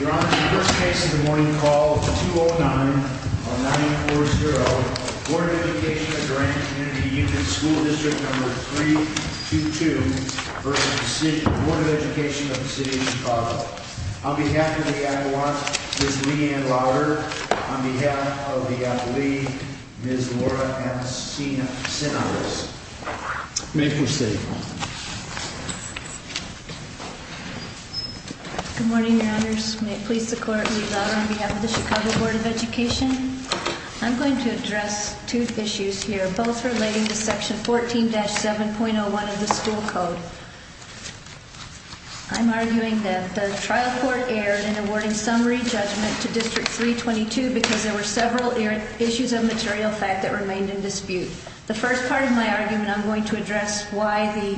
Your Honor, the first case of the morning called 209-940, Board of Education of Durant Community Unit School District No. 322 v. Board of Education of City of Chicago. On behalf of the Adelante, Ms. Leanne Lauder. On behalf of the Adelaide, Ms. Laura M. Sinales. May it proceed. Good morning, your honors. May it please the court, Ms. Lauder on behalf of the Chicago Board of Education. I'm going to address two issues here, both relating to section 14-7.01 of the school code. I'm arguing that the trial court erred in awarding summary judgment to District 322 because there were several issues of material fact that remained in dispute. The first part of my argument, I'm going to address why the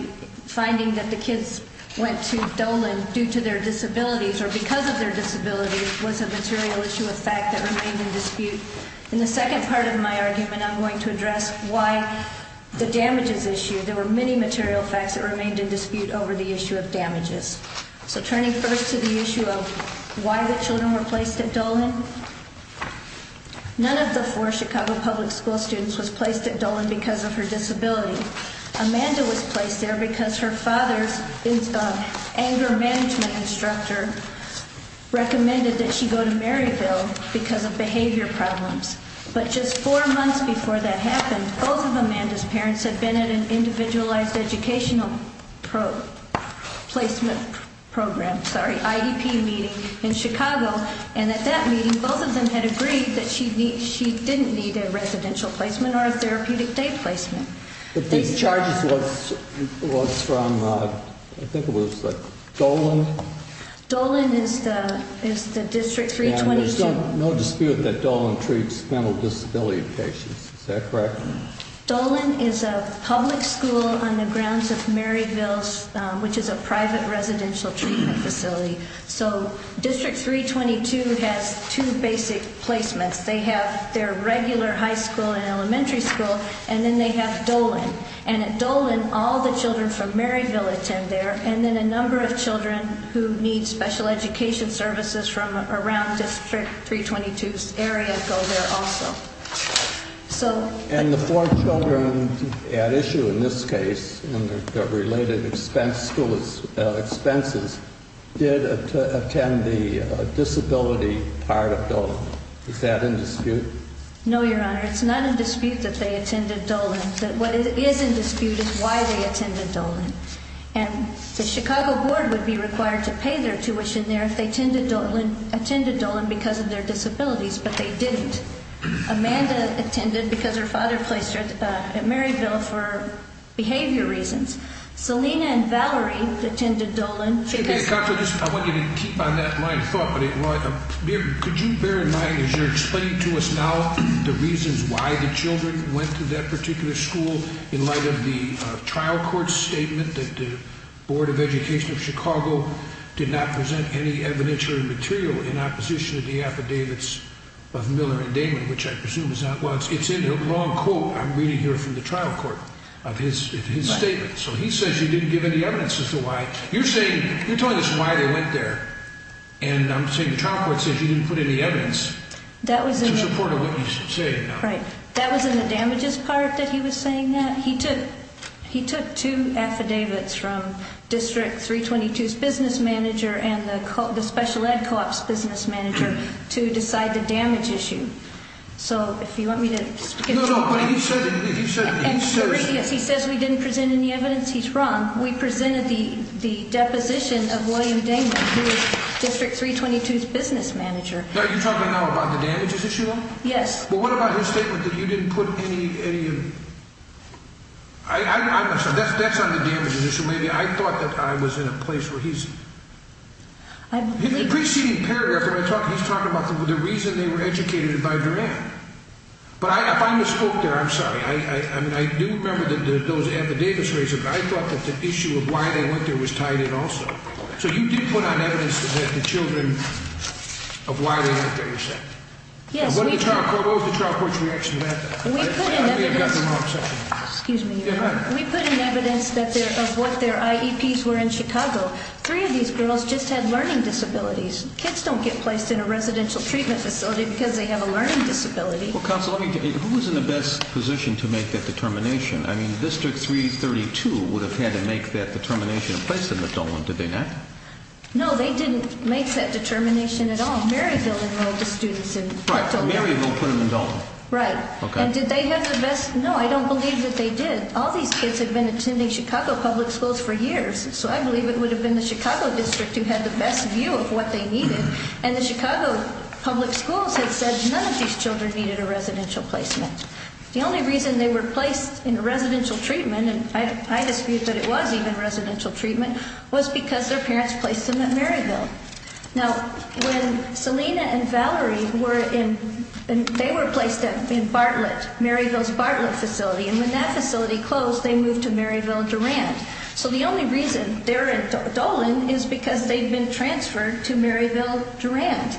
finding that the kids went to Dolan due to their disabilities or because of their disabilities was a material issue of fact that remained in dispute. In the second part of my argument, I'm going to address why the damages issue, there were many material facts that remained in dispute over the issue of damages. So turning first to the issue of why the children were placed at Dolan, none of the four Chicago public school students was placed at Dolan because of her disability. Amanda was placed there because her father's anger management instructor recommended that she go to Maryville because of behavior problems. But just four months before that happened, both of Amanda's parents had been at an individualized educational placement program, sorry, IDP meeting in Chicago. And at that meeting, both of them had agreed that she didn't need a residential placement or a therapeutic day placement. These charges was from, I think it was like Dolan? Dolan is the District 322. There's no dispute that Dolan treats mental disability patients, is that correct? Dolan is a public school on the grounds of Maryville's, which is a private residential treatment facility. So District 322 has two basic placements. They have their regular high school and elementary school, and then they have Dolan. And at Dolan, all the children from Maryville attend there, and then a number of children who need special education services from around District 322's area go there also. And the four children at issue in this case, and their related school expenses, did attend the disability part of Dolan. Is that in dispute? No, Your Honor, it's not in dispute that they attended Dolan. What is in dispute is why they attended Dolan. And the Chicago Board would be required to pay their tuition there if they attended Dolan because of their disabilities, but they didn't. Amanda attended because her father placed her at Maryville for behavior reasons. Selena and Valerie attended Dolan. I want you to keep on that line of thought. Could you bear in mind, as you're explaining to us now, the reasons why the children went to that particular school, in light of the trial court statement that the Board of Education of Chicago did not present any evidence or material in opposition to the affidavits of Miller and Damon, which I presume is not, well, it's in the wrong quote I'm reading here from the trial court of his statement. So he says you didn't give any evidence as to why. You're saying, you're telling us why they went there. And I'm saying the trial court says you didn't put any evidence to support what you're saying now. Right. That was in the damages part that he was saying that. He took two affidavits from District 322's business manager and the special ed co-op's business manager to decide the damage issue. So if you want me to get to that. No, no, but he said, he said. As far as we didn't present any evidence, he's wrong. We presented the deposition of William Damon, who is District 322's business manager. Are you talking now about the damages issue? Yes. Well, what about his statement that you didn't put any, any. That's not the damages issue. Maybe I thought that I was in a place where he's. In the preceding paragraph, he's talking about the reason they were educated by Duran. But if I misspoke there, I'm sorry. I do remember those affidavits raised, but I thought that the issue of why they went there was tied in also. So you did put on evidence that the children, of why they went there, you're saying? Yes. What was the trial court's reaction to that? We put in evidence. Excuse me. Go ahead. We put in evidence of what their IEPs were in Chicago. Three of these girls just had learning disabilities. Kids don't get placed in a residential treatment facility because they have a learning disability. Well, counsel, who was in the best position to make that determination? I mean, District 332 would have had to make that determination and place them in Dalton, did they not? No, they didn't make that determination at all. Maryville enrolled the students in Dalton. Right, Maryville put them in Dalton. Right. Okay. And did they have the best, no, I don't believe that they did. All these kids had been attending Chicago public schools for years. So I believe it would have been the Chicago district who had the best view of what they needed. And the Chicago public schools had said none of these children needed a residential placement. The only reason they were placed in a residential treatment, and I dispute that it was even residential treatment, was because their parents placed them at Maryville. Now, when Selena and Valerie were in, they were placed in Bartlett, Maryville's Bartlett facility, and when that facility closed, they moved to Maryville-Durant. So the only reason they're in Dolan is because they'd been transferred to Maryville-Durant.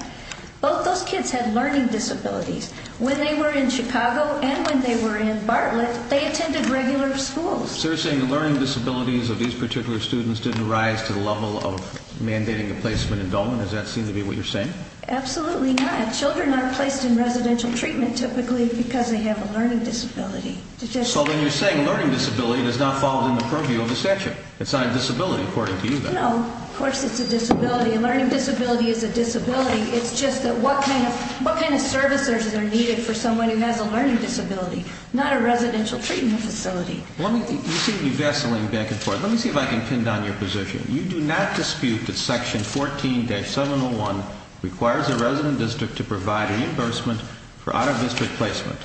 Both those kids had learning disabilities. When they were in Chicago and when they were in Bartlett, they attended regular schools. So you're saying the learning disabilities of these particular students didn't rise to the level of mandating a placement in Dolan? Does that seem to be what you're saying? Absolutely not. Children aren't placed in residential treatment typically because they have a learning disability. So then you're saying a learning disability does not fall within the purview of the statute. It's not a disability, according to you, then? No, of course it's a disability. A learning disability is a disability. It's just that what kind of services are needed for someone who has a learning disability, not a residential treatment facility. You seem to be vesseling back and forth. Let me see if I can pin down your position. You do not dispute that Section 14-701 requires a resident district to provide reimbursement for out-of-district placement,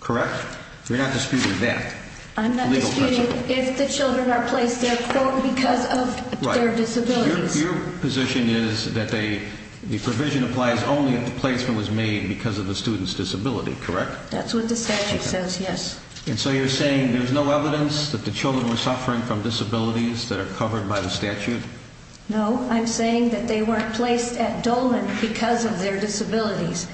correct? You're not disputing that? I'm not disputing if the children are placed there because of their disabilities. Your position is that the provision applies only if the placement was made because of the student's disability, correct? That's what the statute says, yes. And so you're saying there's no evidence that the children were suffering from disabilities that are covered by the statute? No, I'm saying that they weren't placed at Dolan because of their disabilities.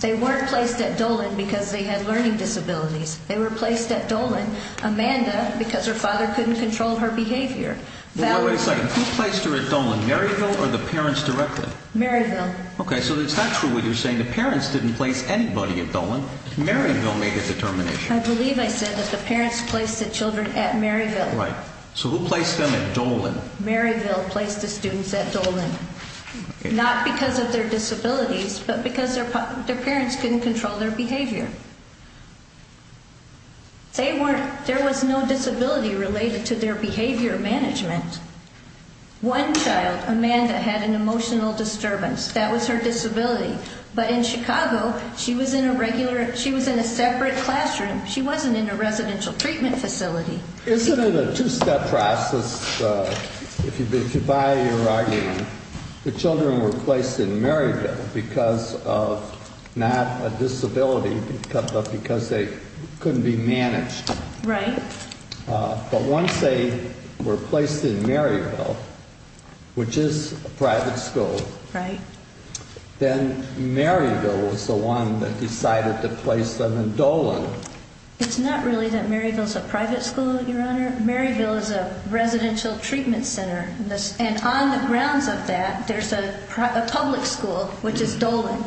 They weren't placed at Dolan because they had learning disabilities. They were placed at Dolan, Amanda, because her father couldn't control her behavior. Wait a second. Who placed her at Dolan, Maryville or the parents directly? Maryville. Okay, so it's not true what you're saying. The parents didn't place anybody at Dolan. Maryville made the determination. I believe I said that the parents placed the children at Maryville. Right. So who placed them at Dolan? Maryville placed the students at Dolan. Not because of their disabilities, but because their parents couldn't control their behavior. There was no disability related to their behavior management. One child, Amanda, had an emotional disturbance. That was her disability. But in Chicago, she was in a separate classroom. She wasn't in a residential treatment facility. Isn't it a two-step process? If you buy your argument, the children were placed in Maryville because of not a disability, but because they couldn't be managed. Right. But once they were placed in Maryville, which is a private school, then Maryville was the one that decided to place them at Dolan. It's not really that Maryville's a private school, Your Honor. Maryville is a residential treatment center. And on the grounds of that, there's a public school, which is Dolan.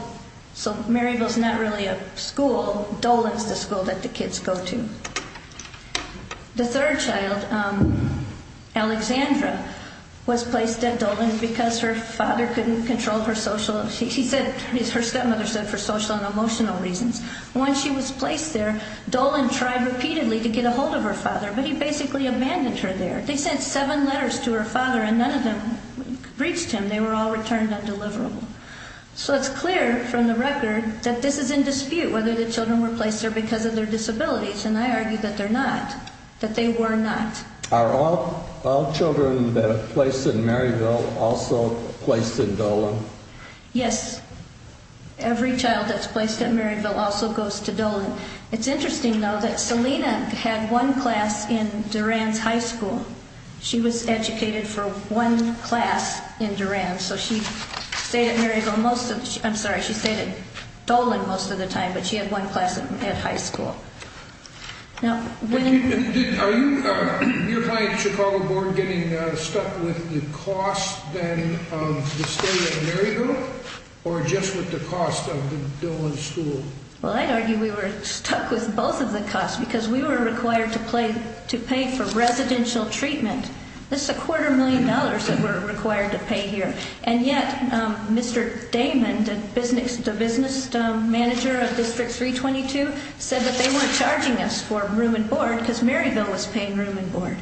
So Maryville's not really a school. Dolan's the school that the kids go to. The third child, Alexandra, was placed at Dolan because her father couldn't control her social... Dolan tried repeatedly to get a hold of her father, but he basically abandoned her there. They sent seven letters to her father, and none of them reached him. They were all returned undeliverable. So it's clear from the record that this is in dispute, whether the children were placed there because of their disabilities. And I argue that they're not, that they were not. Are all children that are placed in Maryville also placed in Dolan? Yes. Every child that's placed at Maryville also goes to Dolan. It's interesting, though, that Selena had one class in Duran's high school. She was educated for one class in Duran, so she stayed at Maryville most of the... I'm sorry, she stayed at Dolan most of the time, but she had one class at high school. Now, when... Are you, your client, Chicago Board, getting stuck with the cost, then, of the stay at Maryville, or just with the cost of the Dolan school? Well, I'd argue we were stuck with both of the costs because we were required to pay for residential treatment. This is a quarter million dollars that we're required to pay here. And yet, Mr. Damon, the business manager of District 322, said that they weren't charging us for room and board because Maryville was paying room and board.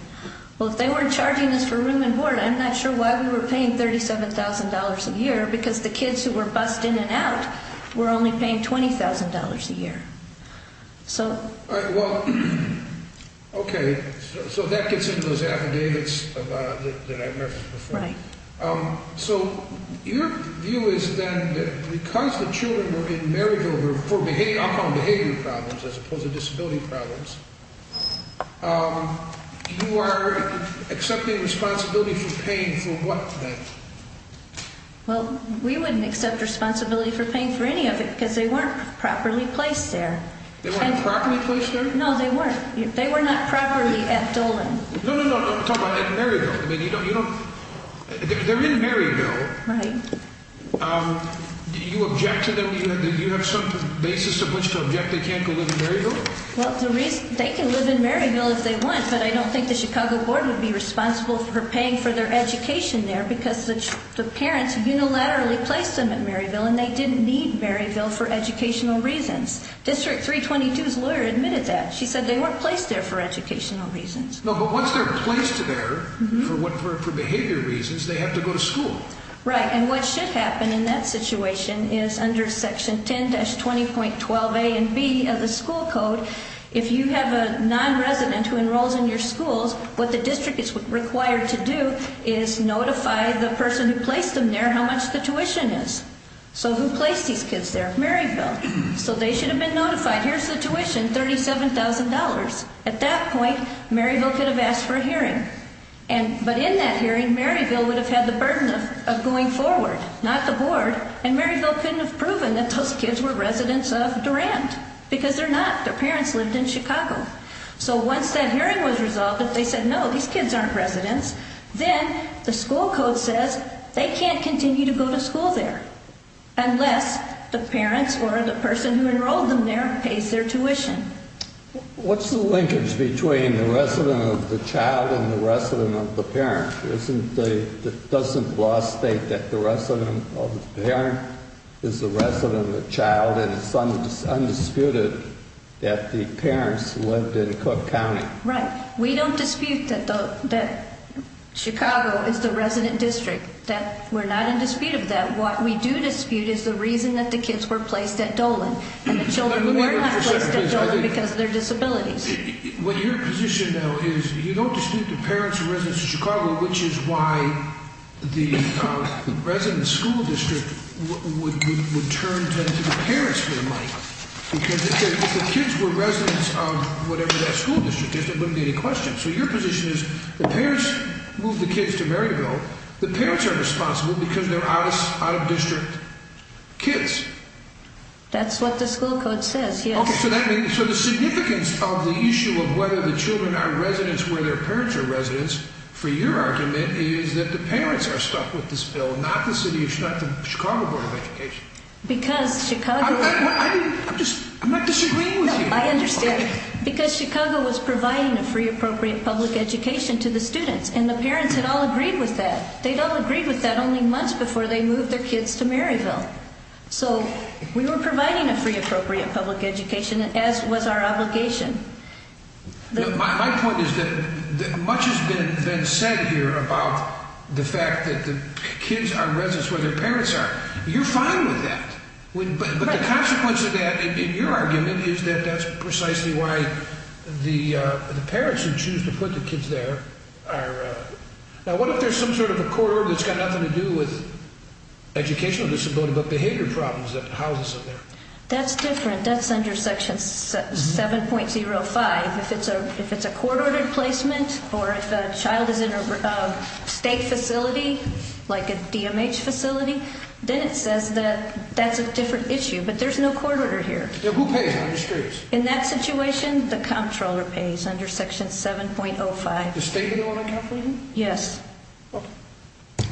Well, if they weren't charging us for room and board, I'm not sure why we were paying $37,000 a year because the kids who were bused in and out were only paying $20,000 a year. All right, well, okay, so that gets into those affidavits that I referenced before. Right. So your view is, then, that because the children were in Maryville for alcohol and behavior problems as opposed to disability problems, you are accepting responsibility for paying for what, then? Well, we wouldn't accept responsibility for paying for any of it because they weren't properly placed there. They weren't properly placed there? No, they weren't. They were not properly at Dolan. No, no, no, I'm talking about at Maryville. I mean, you don't, you don't, they're in Maryville. Right. Do you object to them? Do you have some basis of which to object they can't go live in Maryville? Well, the reason, they can live in Maryville if they want, but I don't think the Chicago Board would be responsible for paying for their education there because the parents unilaterally placed them at Maryville, and they didn't need Maryville for educational reasons. District 322's lawyer admitted that. She said they weren't placed there for educational reasons. No, but once they're placed there for behavior reasons, they have to go to school. Right, and what should happen in that situation is under Section 10-20.12a and b of the school code, if you have a nonresident who enrolls in your schools, what the district is required to do is notify the person who placed them there how much the tuition is. So who placed these kids there? Maryville. So they should have been notified, here's the tuition, $37,000. At that point, Maryville could have asked for a hearing, but in that hearing, Maryville would have had the burden of going forward, not the board, and Maryville couldn't have proven that those kids were residents of Durant because they're not. Their parents lived in Chicago. So once that hearing was resolved, if they said, no, these kids aren't residents, then the school code says they can't continue to go to school there unless the parents or the person who enrolled them there pays their tuition. What's the linkage between the resident of the child and the resident of the parent? Doesn't law state that the resident of the parent is the resident of the child and it's undisputed that the parents lived in Cook County? Right. We don't dispute that Chicago is the resident district. We're not in dispute of that. What we do dispute is the reason that the kids were placed at Dolan and the children were not placed at Dolan because of their disabilities. What your position, though, is you don't dispute the parents are residents of Chicago, which is why the resident school district would turn to the parents for the money because if the kids were residents of whatever that school district is, there wouldn't be any questions. So your position is the parents moved the kids to Maryville. The parents are responsible because they're out-of-district kids. That's what the school code says, yes. So the significance of the issue of whether the children are residents where their parents are residents for your argument is that the parents are stuck with this bill, not the Chicago Board of Education. I'm not disagreeing with you. No, I understand because Chicago was providing a free, appropriate public education to the students and the parents had all agreed with that. They'd all agreed with that only months before they moved their kids to Maryville. So we were providing a free, appropriate public education as was our obligation. My point is that much has been said here about the fact that the kids are residents where their parents are. You're fine with that. But the consequence of that, in your argument, is that that's precisely why the parents who choose to put the kids there are... Now, what if there's some sort of a corridor that's got nothing to do with educational disability but behavior problems that house us in there? That's different. That's under Section 7.05. If it's a corridor placement or if a child is in a state facility, like a DMH facility, then it says that that's a different issue, but there's no corridor here. Now, who pays on the streets? In that situation, the comptroller pays under Section 7.05. The state-in-order comptroller? Yes.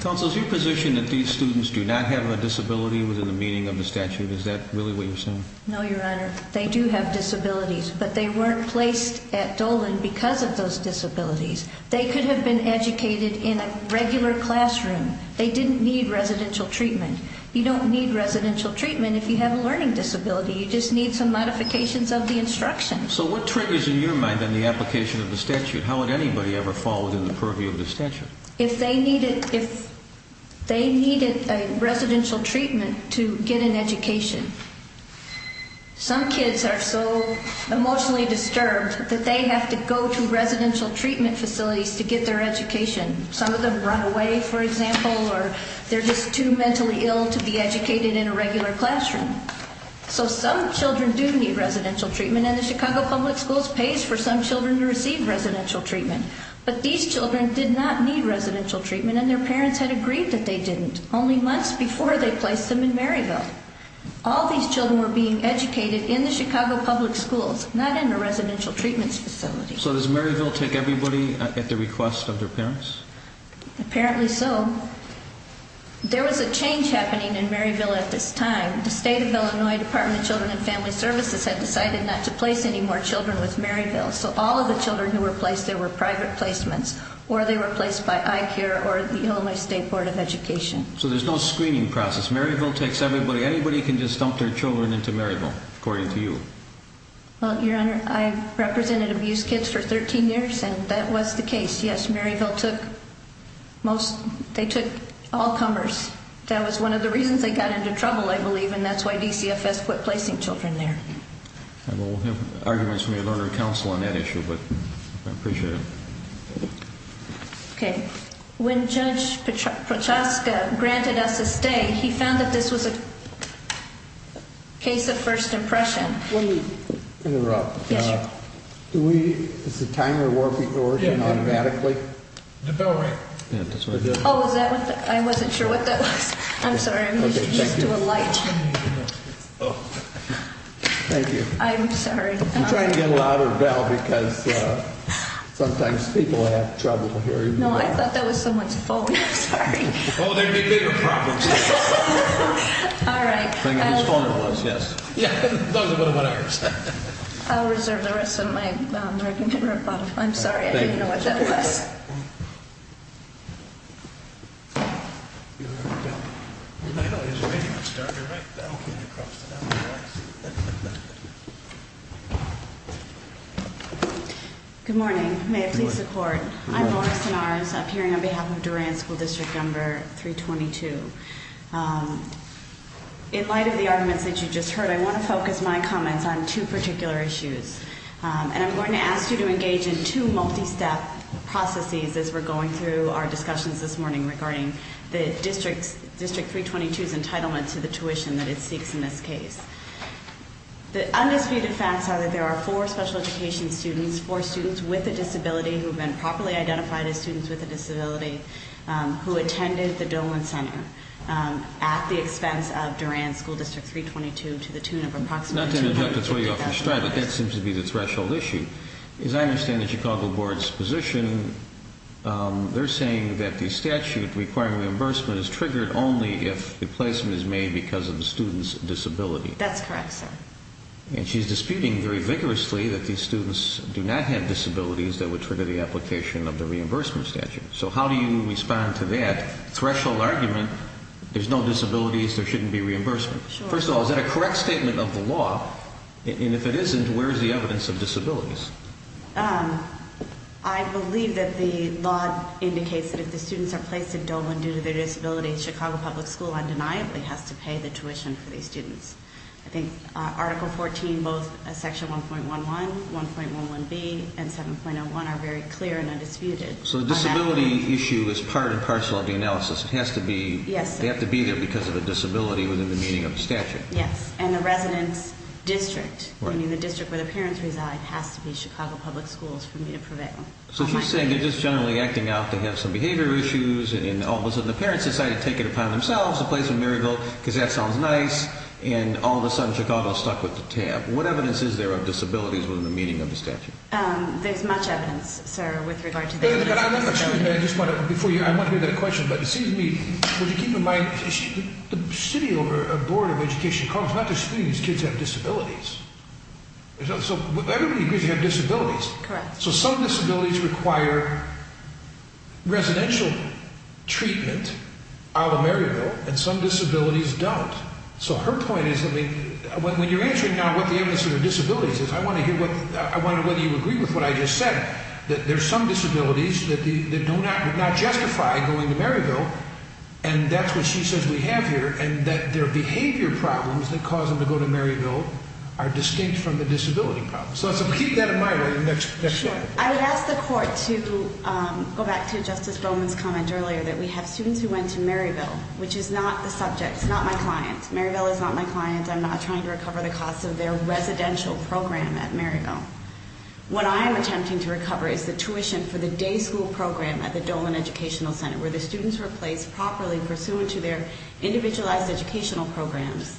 Counsel, is your position that these students do not have a disability within the meaning of the statute? Is that really what you're saying? No, Your Honor. They do have disabilities, but they weren't placed at Dolan because of those disabilities. They could have been educated in a regular classroom. They didn't need residential treatment. You don't need residential treatment if you have a learning disability. You just need some modifications of the instructions. So what triggers, in your mind, in the application of the statute? How would anybody ever fall within the purview of the statute? If they needed a residential treatment to get an education. Some kids are so emotionally disturbed that they have to go to residential treatment facilities to get their education. Some of them run away, for example, or they're just too mentally ill to be educated in a regular classroom. So some children do need residential treatment, and the Chicago Public Schools pays for some children to receive residential treatment. But these children did not need residential treatment, and their parents had agreed that they didn't, only months before they placed them in Maryville. All these children were being educated in the Chicago Public Schools, not in a residential treatment facility. So does Maryville take everybody at the request of their parents? Apparently so. There was a change happening in Maryville at this time. The state of Illinois Department of Children and Family Services had decided not to place any more children with Maryville. So all of the children who were placed there were private placements, or they were placed by iCare or the Illinois State Board of Education. So there's no screening process. Maryville takes everybody. Anybody can just dump their children into Maryville, according to you. Well, Your Honor, I represented abused kids for 13 years, and that was the case. Yes, Maryville took all comers. That was one of the reasons they got into trouble, I believe, and that's why DCFS quit placing children there. Well, we'll have arguments from your Lord and Counsel on that issue, but I appreciate it. Okay. When Judge Prochaska granted us a stay, he found that this was a case of first impression. Let me interrupt. Yes, Your Honor. Is the timer working automatically? The bell rang. Oh, is that what that was? I wasn't sure what that was. I'm sorry. I'm used to a light. Thank you. I'm sorry. I'm trying to get a louder bell because sometimes people have trouble hearing the bell. No, I thought that was someone's phone. I'm sorry. Oh, there would be bigger problems. All right. Yeah, those are one of ours. I'll reserve the rest of my time. I'm sorry. I didn't know what that was. Good morning. May it please the Court. I'm Laura Stenaris, appearing on behalf of Duran School District Number 322. In light of the arguments that you just heard, I want to focus my comments on two particular issues. And I'm going to ask you to engage in two multi-step processes as we're going through our discussions this morning regarding the District 322's entitlement to the tuition that it seeks in this case. The undisputed facts are that there are four special education students, four students with a disability who have been properly identified as students with a disability, who attended the Dolan Center at the expense of Duran School District 322 to the tune of approximately $250,000. Not to interject. That's where you're off the stride, but that seems to be the threshold issue. As I understand the Chicago Board's position, they're saying that the statute requiring reimbursement is triggered only if a placement is made because of the student's disability. That's correct, sir. And she's disputing very vigorously that these students do not have disabilities that would trigger the application of the reimbursement statute. So how do you respond to that threshold argument, there's no disabilities, there shouldn't be reimbursement? First of all, is that a correct statement of the law? And if it isn't, where is the evidence of disabilities? I believe that the law indicates that if the students are placed at Dolan due to their disability, Chicago Public School undeniably has to pay the tuition for these students. I think Article 14, both Section 1.11, 1.11b, and 7.01 are very clear and undisputed. So the disability issue is part and parcel of the analysis. It has to be there because of a disability within the meaning of the statute. Yes, and the residence district, meaning the district where the parents reside, has to be Chicago Public Schools for me to prevail. So she's saying they're just generally acting out, they have some behavior issues, and all of a sudden the parents decide to take it upon themselves to place them in Maryville because that sounds nice, and all of a sudden Chicago's stuck with the tab. What evidence is there of disabilities within the meaning of the statute? There's much evidence, sir, with regard to the disability. I just want to, before you, I want to hear that question, but it seems to me, would you keep in mind, the City Board of Education calls not just students, kids have disabilities. So everybody agrees you have disabilities. Correct. So some disabilities require residential treatment out of Maryville, and some disabilities don't. So her point is, I mean, when you're answering now what the evidence of your disabilities is, I want to hear whether you agree with what I just said, that there's some disabilities that do not justify going to Maryville, and that's what she says we have here, and that their behavior problems that cause them to go to Maryville are distinct from the disability problems. So keep that in mind. Sure. I would ask the Court to go back to Justice Bowman's comment earlier, that we have students who went to Maryville, which is not the subject, it's not my client. I'm not trying to recover the cost of their residential program at Maryville. What I am attempting to recover is the tuition for the day school program at the Dolan Educational Center, where the students were placed properly pursuant to their individualized educational programs,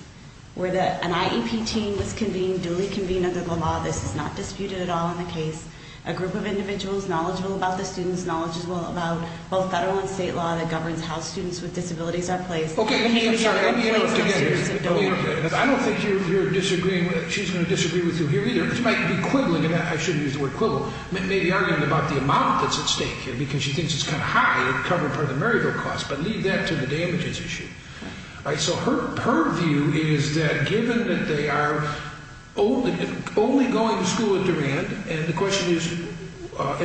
where an IEP team was convened, duly convened under the law. This is not disputed at all in the case. A group of individuals knowledgeable about the students, knowledgeable about both federal and state law that governs how students with disabilities are placed. I don't think she's going to disagree with you here either. She might be quibbling, and I shouldn't use the word quibble, maybe arguing about the amount that's at stake here because she thinks it's kind of high to cover part of the Maryville cost, but leave that to the damages issue. So her view is that given that they are only going to school at Durand, and the question is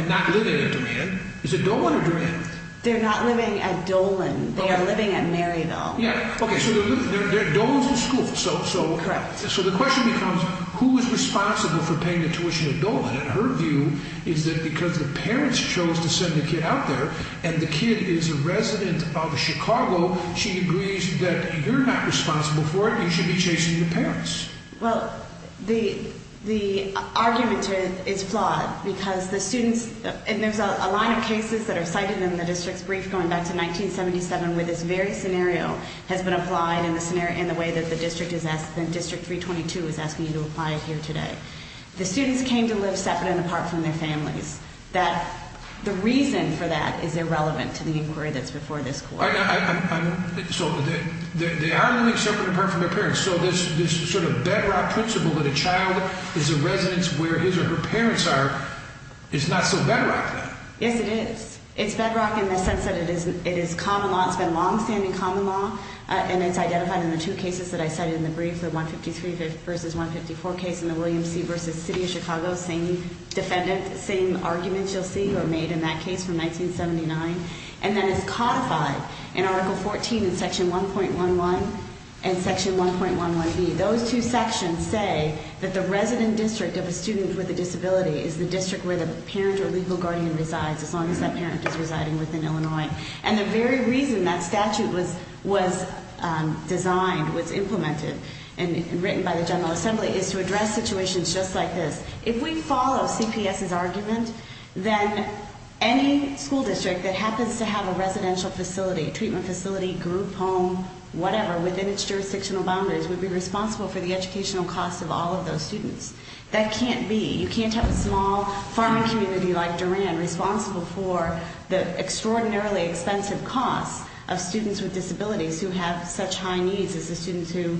not living at Durand, is it Dolan or Durand? They're not living at Dolan. They are living at Maryville. Okay, so Dolan's the school. Correct. So the question becomes, who is responsible for paying the tuition at Dolan? And her view is that because the parents chose to send the kid out there, and the kid is a resident of Chicago, she agrees that you're not responsible for it. You should be chasing the parents. Well, the argument is flawed because the students, and there's a line of cases that are cited in the district's brief going back to 1977 where this very scenario has been applied in the way that the district 322 is asking you to apply here today. The students came to live separate and apart from their families. The reason for that is irrelevant to the inquiry that's before this court. So they are living separate and apart from their parents, so this sort of bedrock principle that a child is a resident where his or her parents are is not so bedrock then. Yes, it is. It's bedrock in the sense that it is common law. It's been long-standing common law, and it's identified in the two cases that I cited in the brief, the 153 v. 154 case and the William C. v. City of Chicago defendant, the same arguments you'll see were made in that case from 1979, and that is codified in Article 14 in Section 1.11 and Section 1.11b. Those two sections say that the resident district of a student with a disability is the district where the parent or legal guardian resides, as long as that parent is residing within Illinois. And the very reason that statute was designed, was implemented and written by the General Assembly is to address situations just like this. If we follow CPS's argument, then any school district that happens to have a residential facility, treatment facility, group home, whatever, within its jurisdictional boundaries, would be responsible for the educational costs of all of those students. That can't be. You can't have a small farming community like Duran responsible for the extraordinarily expensive costs of students with disabilities who have such high needs as the students who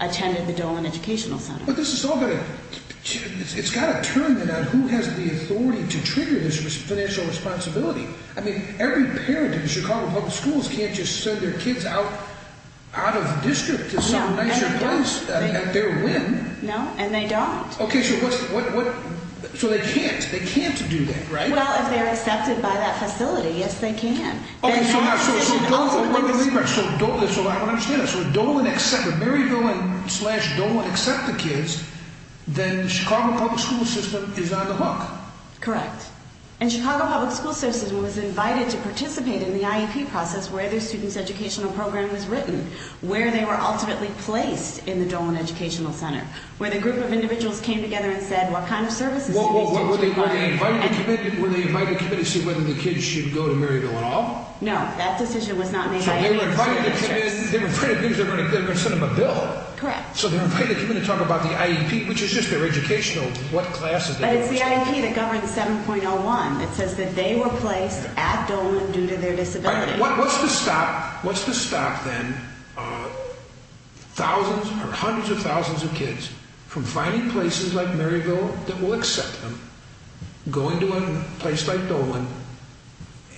attended the Dolan Educational Center. But this has all got to, it's got to turn in on who has the authority to trigger this financial responsibility. I mean, every parent in Chicago Public Schools can't just send their kids out of the district to some nicer place at their whim. No, and they don't. Okay, so what, so they can't, they can't do that, right? Well, if they're accepted by that facility, yes they can. Okay, so I don't understand that. So if Dolan accepts, if Maryville and slash Dolan accept the kids, then the Chicago Public School System is on the hook. Correct. And Chicago Public School System was invited to participate in the IEP process where their student's educational program was written, where they were ultimately placed in the Dolan Educational Center, where the group of individuals came together and said what kind of services do these students require. Were they invited to come in to see whether the kids should go to Maryville at all? No, that decision was not made by any of the school districts. So they were invited to come in, they were afraid of being, they were going to send them a bill. Correct. So they were invited to come in to talk about the IEP, which is just their educational, what classes they were in. But it's the IEP that governs 7.01 that says that they were placed at Dolan due to their disability. What's to stop, what's to stop then thousands or hundreds of thousands of kids from finding places like Maryville that will accept them, going to a place like Dolan,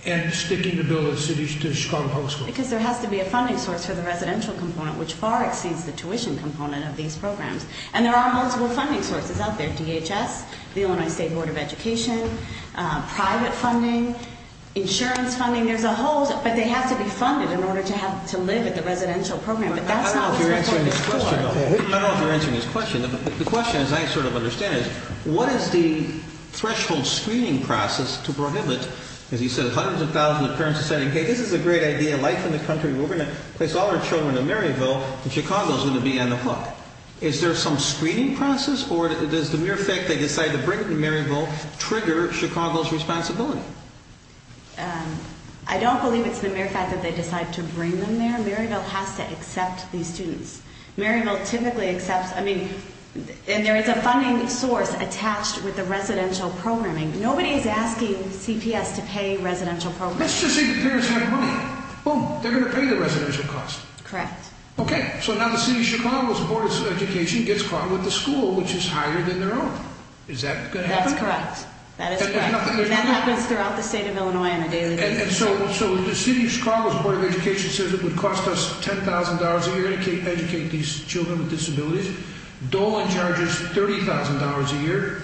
and sticking to build a city to Chicago Public School? Because there has to be a funding source for the residential component, which far exceeds the tuition component of these programs. And there are multiple funding sources out there. DHS, the Illinois State Board of Education, private funding, insurance funding. There's a whole, but they have to be funded in order to live at the residential program. I don't know if you're answering this question. The question, as I sort of understand it, is what is the threshold screening process to prohibit, as you said, hundreds of thousands of parents saying, hey, this is a great idea, life in the country, we're going to place all our children in Maryville, and Chicago's going to be on the hook. Is there some screening process, or does the mere fact they decided to bring them to Maryville trigger Chicago's responsibility? I don't believe it's the mere fact that they decided to bring them there. Maryville has to accept these students. Maryville typically accepts, I mean, and there is a funding source attached with the residential programming. Nobody is asking CPS to pay residential programming. Let's just say the parents have money. Boom, they're going to pay the residential cost. Correct. Okay, so now the city of Chicago's Board of Education gets caught with the school, which is higher than their own. Is that going to happen? That's correct. That is correct. And that happens throughout the state of Illinois on a daily basis. And so the city of Chicago's Board of Education says it would cost us $10,000 a year to educate these children with disabilities. Dolan charges $30,000 a year.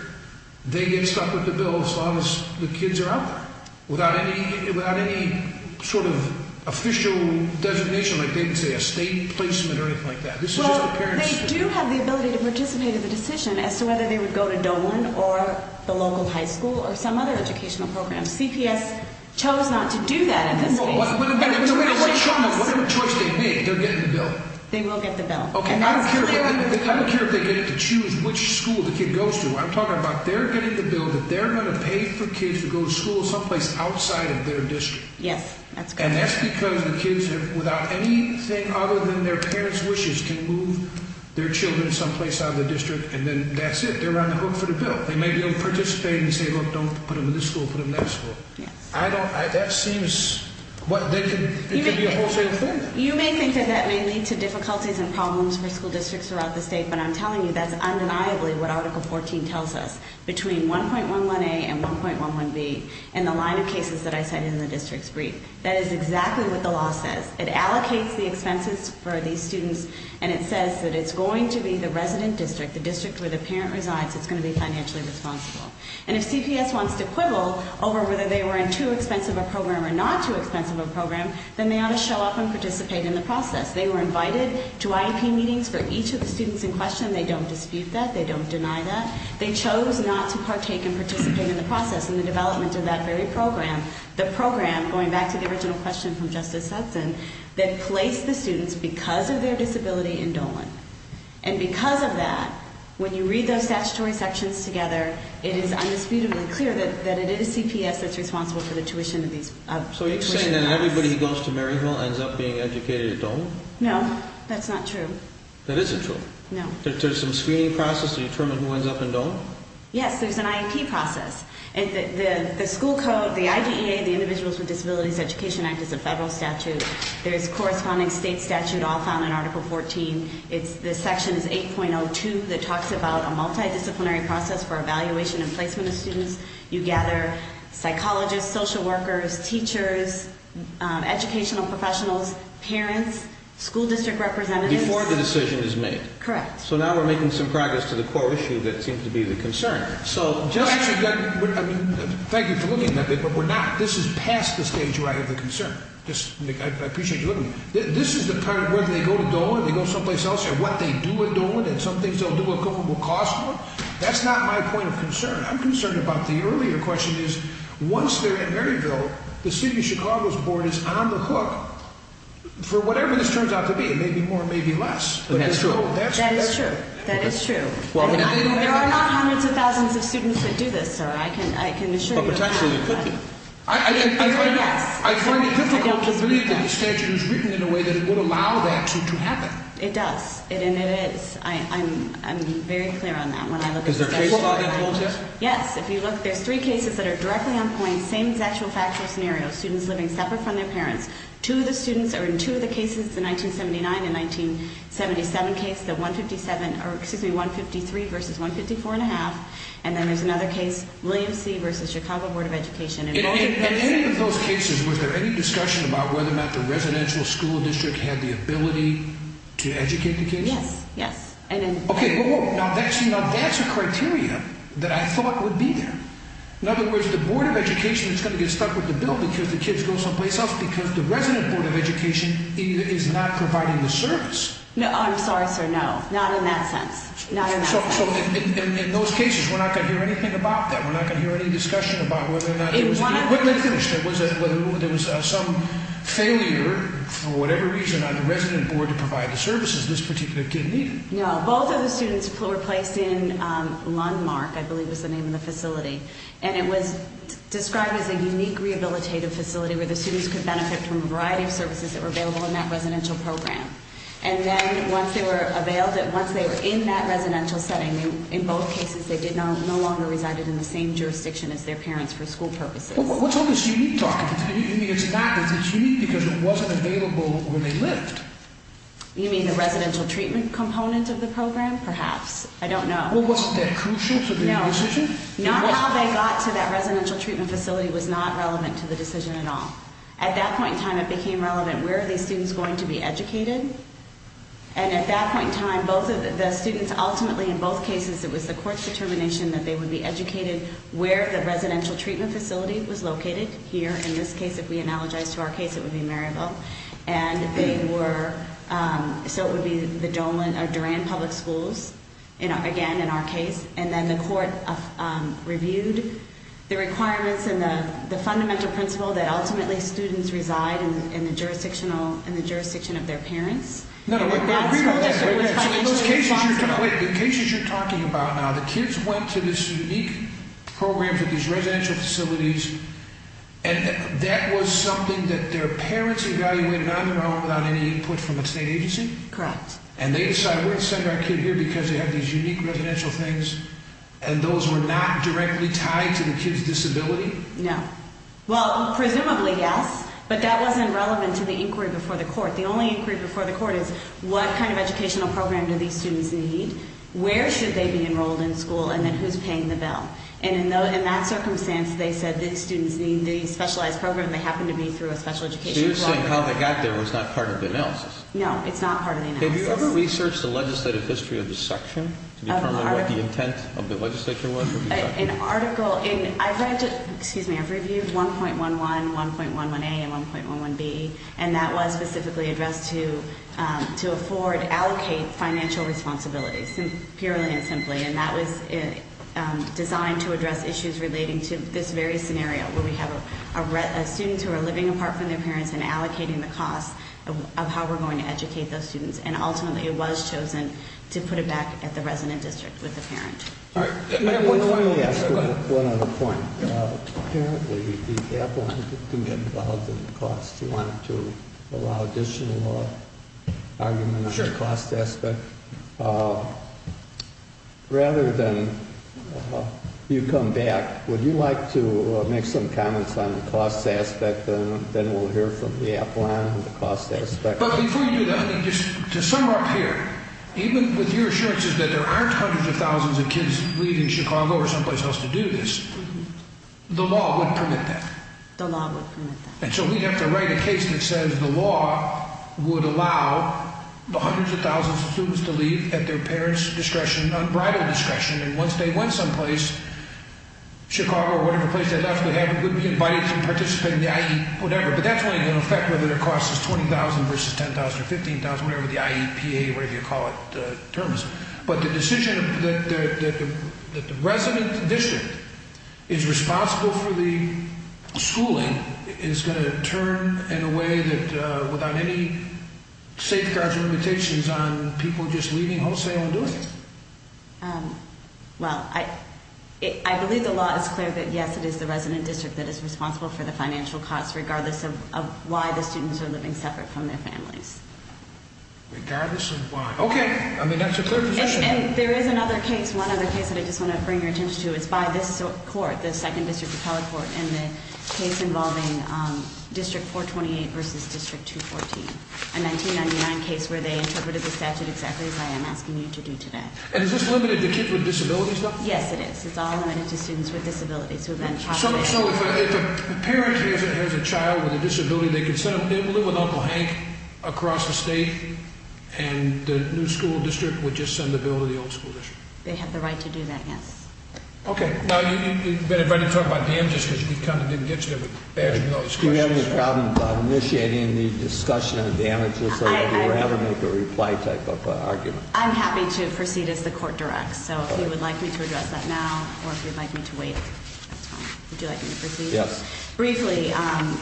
They get stuck with the bill as long as the kids are out there without any sort of official designation, like they can say a state placement or anything like that. Well, they do have the ability to participate in the decision as to whether they would go to Dolan or the local high school or some other educational program. CPS chose not to do that in this case. Whatever choice they make, they're getting the bill. They will get the bill. Okay, I don't care if they get to choose which school the kid goes to. I'm talking about they're getting the bill that they're going to pay for kids to go to school someplace outside of their district. Yes, that's correct. And that's because the kids, without anything other than their parents' wishes, can move their children someplace out of the district, and then that's it. They're on the hook for the bill. They may be able to participate and say, look, don't put them in this school, put them in that school. Yes. I don't – that seems – it could be a whole different thing. You may think that that may lead to difficulties and problems for school districts throughout the state, but I'm telling you that's undeniably what Article 14 tells us, between 1.11a and 1.11b and the line of cases that I cited in the district's brief. That is exactly what the law says. It allocates the expenses for these students, and it says that it's going to be the resident district, the district where the parent resides, that's going to be financially responsible. And if CPS wants to quibble over whether they were in too expensive a program or not too expensive a program, then they ought to show up and participate in the process. They were invited to IEP meetings for each of the students in question. They don't dispute that. They don't deny that. They chose not to partake in participating in the process in the development of that very program. The program, going back to the original question from Justice Hudson, that placed the students, because of their disability, in Dolan. And because of that, when you read those statutory sections together, it is undisputably clear that it is CPS that's responsible for the tuition costs. So you're saying that everybody who goes to Maryhill ends up being educated at Dolan? No, that's not true. That isn't true? No. There's some screening process to determine who ends up in Dolan? Yes, there's an IEP process. The school code, the IDEA, the Individuals with Disabilities Education Act, is a federal statute. There's a corresponding state statute all found in Article 14. The section is 8.02 that talks about a multidisciplinary process for evaluation and placement of students. You gather psychologists, social workers, teachers, educational professionals, parents, school district representatives. Before the decision is made? Correct. So now we're making some progress to the core issue that seems to be the concern. Thank you for looking at that, but we're not. This is past the stage where I have a concern. I appreciate you looking at it. This is the part where they go to Dolan, they go someplace else, and what they do at Dolan, and some things they'll do at Dolan will cost more? That's not my point of concern. I'm concerned about the earlier question is, once they're at Maryhill, the City of Chicago's board is on the hook for whatever this turns out to be, maybe more, maybe less. That's true. That is true. That is true. There are not hundreds of thousands of students that do this, sir. I can assure you of that. I find it difficult to believe that the statute is written in a way that would allow that to happen. It does, and it is. I'm very clear on that when I look at the statute. Is there a case file that holds this? Yes. If you look, there's three cases that are directly on point, same factual scenario, students living separate from their parents. Two of the students are in two of the cases, the 1979 and 1977 case, the 153 versus 154.5, and then there's another case, William C. versus Chicago Board of Education. In any of those cases, was there any discussion about whether or not the residential school district had the ability to educate the kids? Yes, yes. Okay, now that's a criteria that I thought would be there. In other words, the Board of Education is going to get stuck with the bill because the kids go someplace else because the Resident Board of Education is not providing the service. No, I'm sorry, sir, no. Not in that sense. Not in that sense. So in those cases, we're not going to hear anything about that? We're not going to hear any discussion about whether or not there was a failure for whatever reason on the Resident Board to provide the services this particular kid needed? No. Both of the students were placed in Lundmark, I believe was the name of the facility, and it was described as a unique rehabilitative facility where the students could benefit from a variety of services that were available in that residential program. And then once they were in that residential setting, in both cases, they no longer resided in the same jurisdiction as their parents for school purposes. What's all this unique talking? Do you mean it's not unique because it wasn't available when they lived? You mean the residential treatment component of the program? Perhaps. I don't know. Well, wasn't that crucial for the decision? No. Not how they got to that residential treatment facility was not relevant to the decision at all. At that point in time, it became relevant, where are these students going to be educated? And at that point in time, both of the students ultimately, in both cases, it was the court's determination that they would be educated where the residential treatment facility was located. Here, in this case, if we analogize to our case, it would be Maryville. And they were, so it would be the Dolan or Duran public schools, again, in our case. And then the court reviewed the requirements and the fundamental principle that ultimately students reside in the jurisdiction of their parents. In the cases you're talking about now, the kids went to this unique program for these residential facilities, and that was something that their parents evaluated on their own without any input from the state agency? Correct. And they decided, we're going to send our kid here because they have these unique residential things, and those were not directly tied to the kid's disability? No. Well, presumably, yes. But that wasn't relevant to the inquiry before the court. The only inquiry before the court is, what kind of educational program do these students need? Where should they be enrolled in school, and then who's paying the bill? And in that circumstance, they said the students need the specialized program. They happened to be through a special education program. So you're saying how they got there was not part of the analysis? No, it's not part of the analysis. Have you ever researched the legislative history of the section to determine what the intent of the legislature was? I've reviewed 1.11, 1.11a, and 1.11b, and that was specifically addressed to afford, allocate financial responsibilities, purely and simply. And that was designed to address issues relating to this very scenario, where we have students who are living apart from their parents and allocating the cost of how we're going to educate those students. And ultimately, it was chosen to put it back at the resident district with the parent. All right. Let me ask one other point. Apparently, the Avalon didn't get involved in the cost. You wanted to allow additional argument on the cost aspect. Rather than you come back, would you like to make some comments on the cost aspect, and then we'll hear from the Avalon on the cost aspect? But before you do that, just to sum up here, even with your assurances that there aren't hundreds of thousands of kids leaving Chicago or someplace else to do this, the law would permit that. The law would permit that. And so we'd have to write a case that says the law would allow the hundreds of thousands of students to leave at their parents' discretion, unbridled discretion. And once they went someplace, Chicago or whatever place they left, they would be invited to participate in the IEP, whatever. But that's only going to affect whether the cost is $20,000 versus $10,000 or $15,000, whatever the IEPA, whatever you call it, terms. But the decision that the resident district is responsible for the schooling is going to turn in a way that without any safeguards or limitations on people just leaving wholesale and doing it. Well, I believe the law is clear that, yes, it is the resident district that is responsible for the financial costs, regardless of why the students are living separate from their families. Regardless of why. Okay. I mean, that's a clear position. And there is another case, one other case that I just want to bring your attention to. It's by this court, the 2nd District Appellate Court, and the case involving District 428 versus District 214, a 1999 case where they interpreted the statute exactly as I am asking you to do today. And is this limited to kids with disabilities, though? Yes, it is. It's all limited to students with disabilities who have been trafficked. So if a parent has a child with a disability, they can live with Uncle Hank across the state, and the new school district would just send the bill to the old school district? They have the right to do that, yes. Okay. Now, you'd better talk about damages because we kind of didn't get to them with answering all these questions. Do you have any problem initiating the discussion of damages, or would you rather make a reply type of argument? I'm happy to proceed as the court directs. So if you would like me to address that now, or if you'd like me to wait, would you like me to proceed? Yes. Briefly,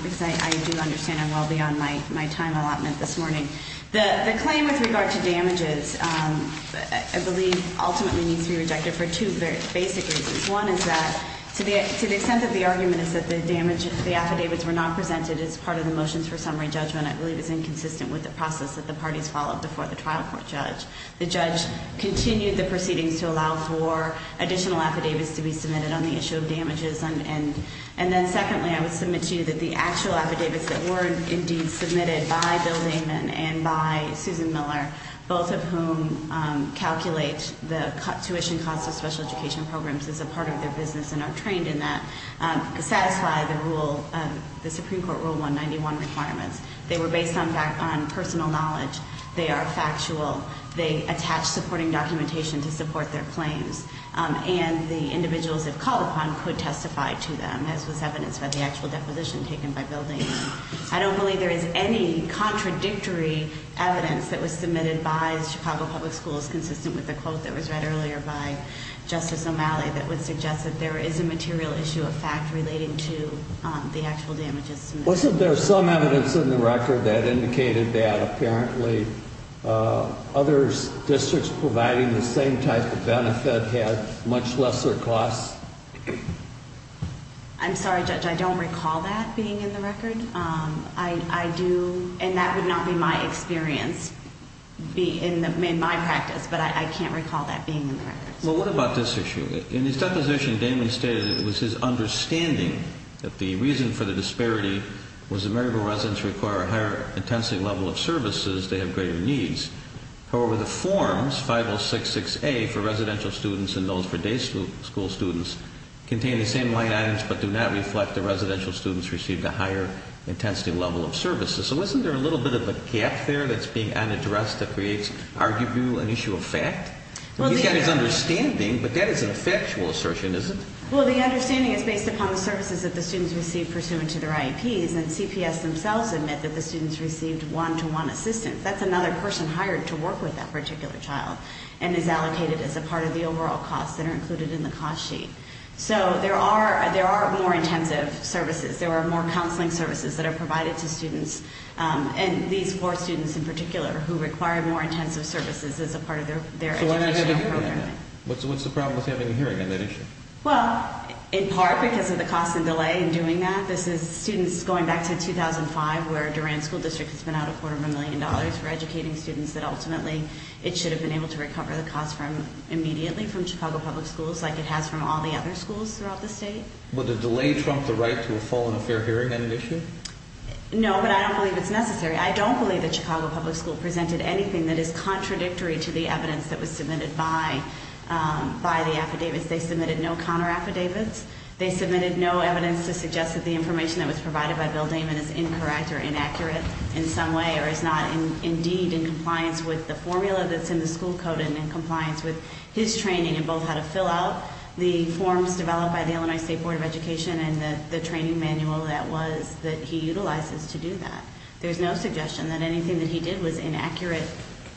because I do understand I'm well beyond my time allotment this morning. The claim with regard to damages, I believe, ultimately needs to be rejected for two very basic reasons. One is that, to the extent that the argument is that the affidavits were not presented as part of the motions for summary judgment, I believe it's inconsistent with the process that the parties followed before the trial court judge. The judge continued the proceedings to allow for additional affidavits to be submitted on the issue of damages. And then secondly, I would submit to you that the actual affidavits that were indeed submitted by Bill Lehman and by Susan Miller, both of whom calculate the tuition cost of special education programs as a part of their business and are trained in that, satisfy the rule, the Supreme Court Rule 191 requirements. They were based on personal knowledge. They are factual. They attach supporting documentation to support their claims. And the individuals have called upon could testify to them, as was evidenced by the actual deposition taken by Bill Lehman. I don't believe there is any contradictory evidence that was submitted by Chicago Public Schools, consistent with the quote that was read earlier by Justice O'Malley, that would suggest that there is a material issue of fact relating to the actual damages. Wasn't there some evidence in the record that indicated that apparently other districts providing the same type of benefit had much lesser costs? I'm sorry, Judge, I don't recall that being in the record. I do, and that would not be my experience in my practice, but I can't recall that being in the record. Well, what about this issue? In his deposition, Damon stated it was his understanding that the reason for the disparity was the Maryville residents require a higher intensity level of services. They have greater needs. However, the forms, 5066A for residential students and those for day school students, contain the same line items but do not reflect the residential students received a higher intensity level of services. So wasn't there a little bit of a gap there that's being unaddressed that creates arguably an issue of fact? He's got his understanding, but that is an effectual assertion, isn't it? Well, the understanding is based upon the services that the students receive pursuant to their IEPs, and CPS themselves admit that the students received one-to-one assistance. That's another person hired to work with that particular child and is allocated as a part of the overall costs that are included in the cost sheet. So there are more intensive services. There are more counseling services that are provided to students, and these four students in particular who require more intensive services as a part of their educational programming. So what's the problem with having a hearing on that issue? Well, in part because of the cost and delay in doing that. This is students going back to 2005 where Durant School District has been out a quarter of a million dollars for educating students that ultimately it should have been able to recover the cost immediately from Chicago Public Schools like it has from all the other schools throughout the state. Would a delay trump the right to a full and a fair hearing on an issue? No, but I don't believe it's necessary. I don't believe that Chicago Public School presented anything that is contradictory to the evidence that was submitted by the affidavits. They submitted no counter affidavits. They submitted no evidence to suggest that the information that was provided by Bill Damon is incorrect or inaccurate in some way or is not indeed in compliance with the formula that's in the school code and in compliance with his training in both how to fill out the forms developed by the Illinois State Board of Education and the training manual that he utilizes to do that. There's no suggestion that anything that he did was inaccurate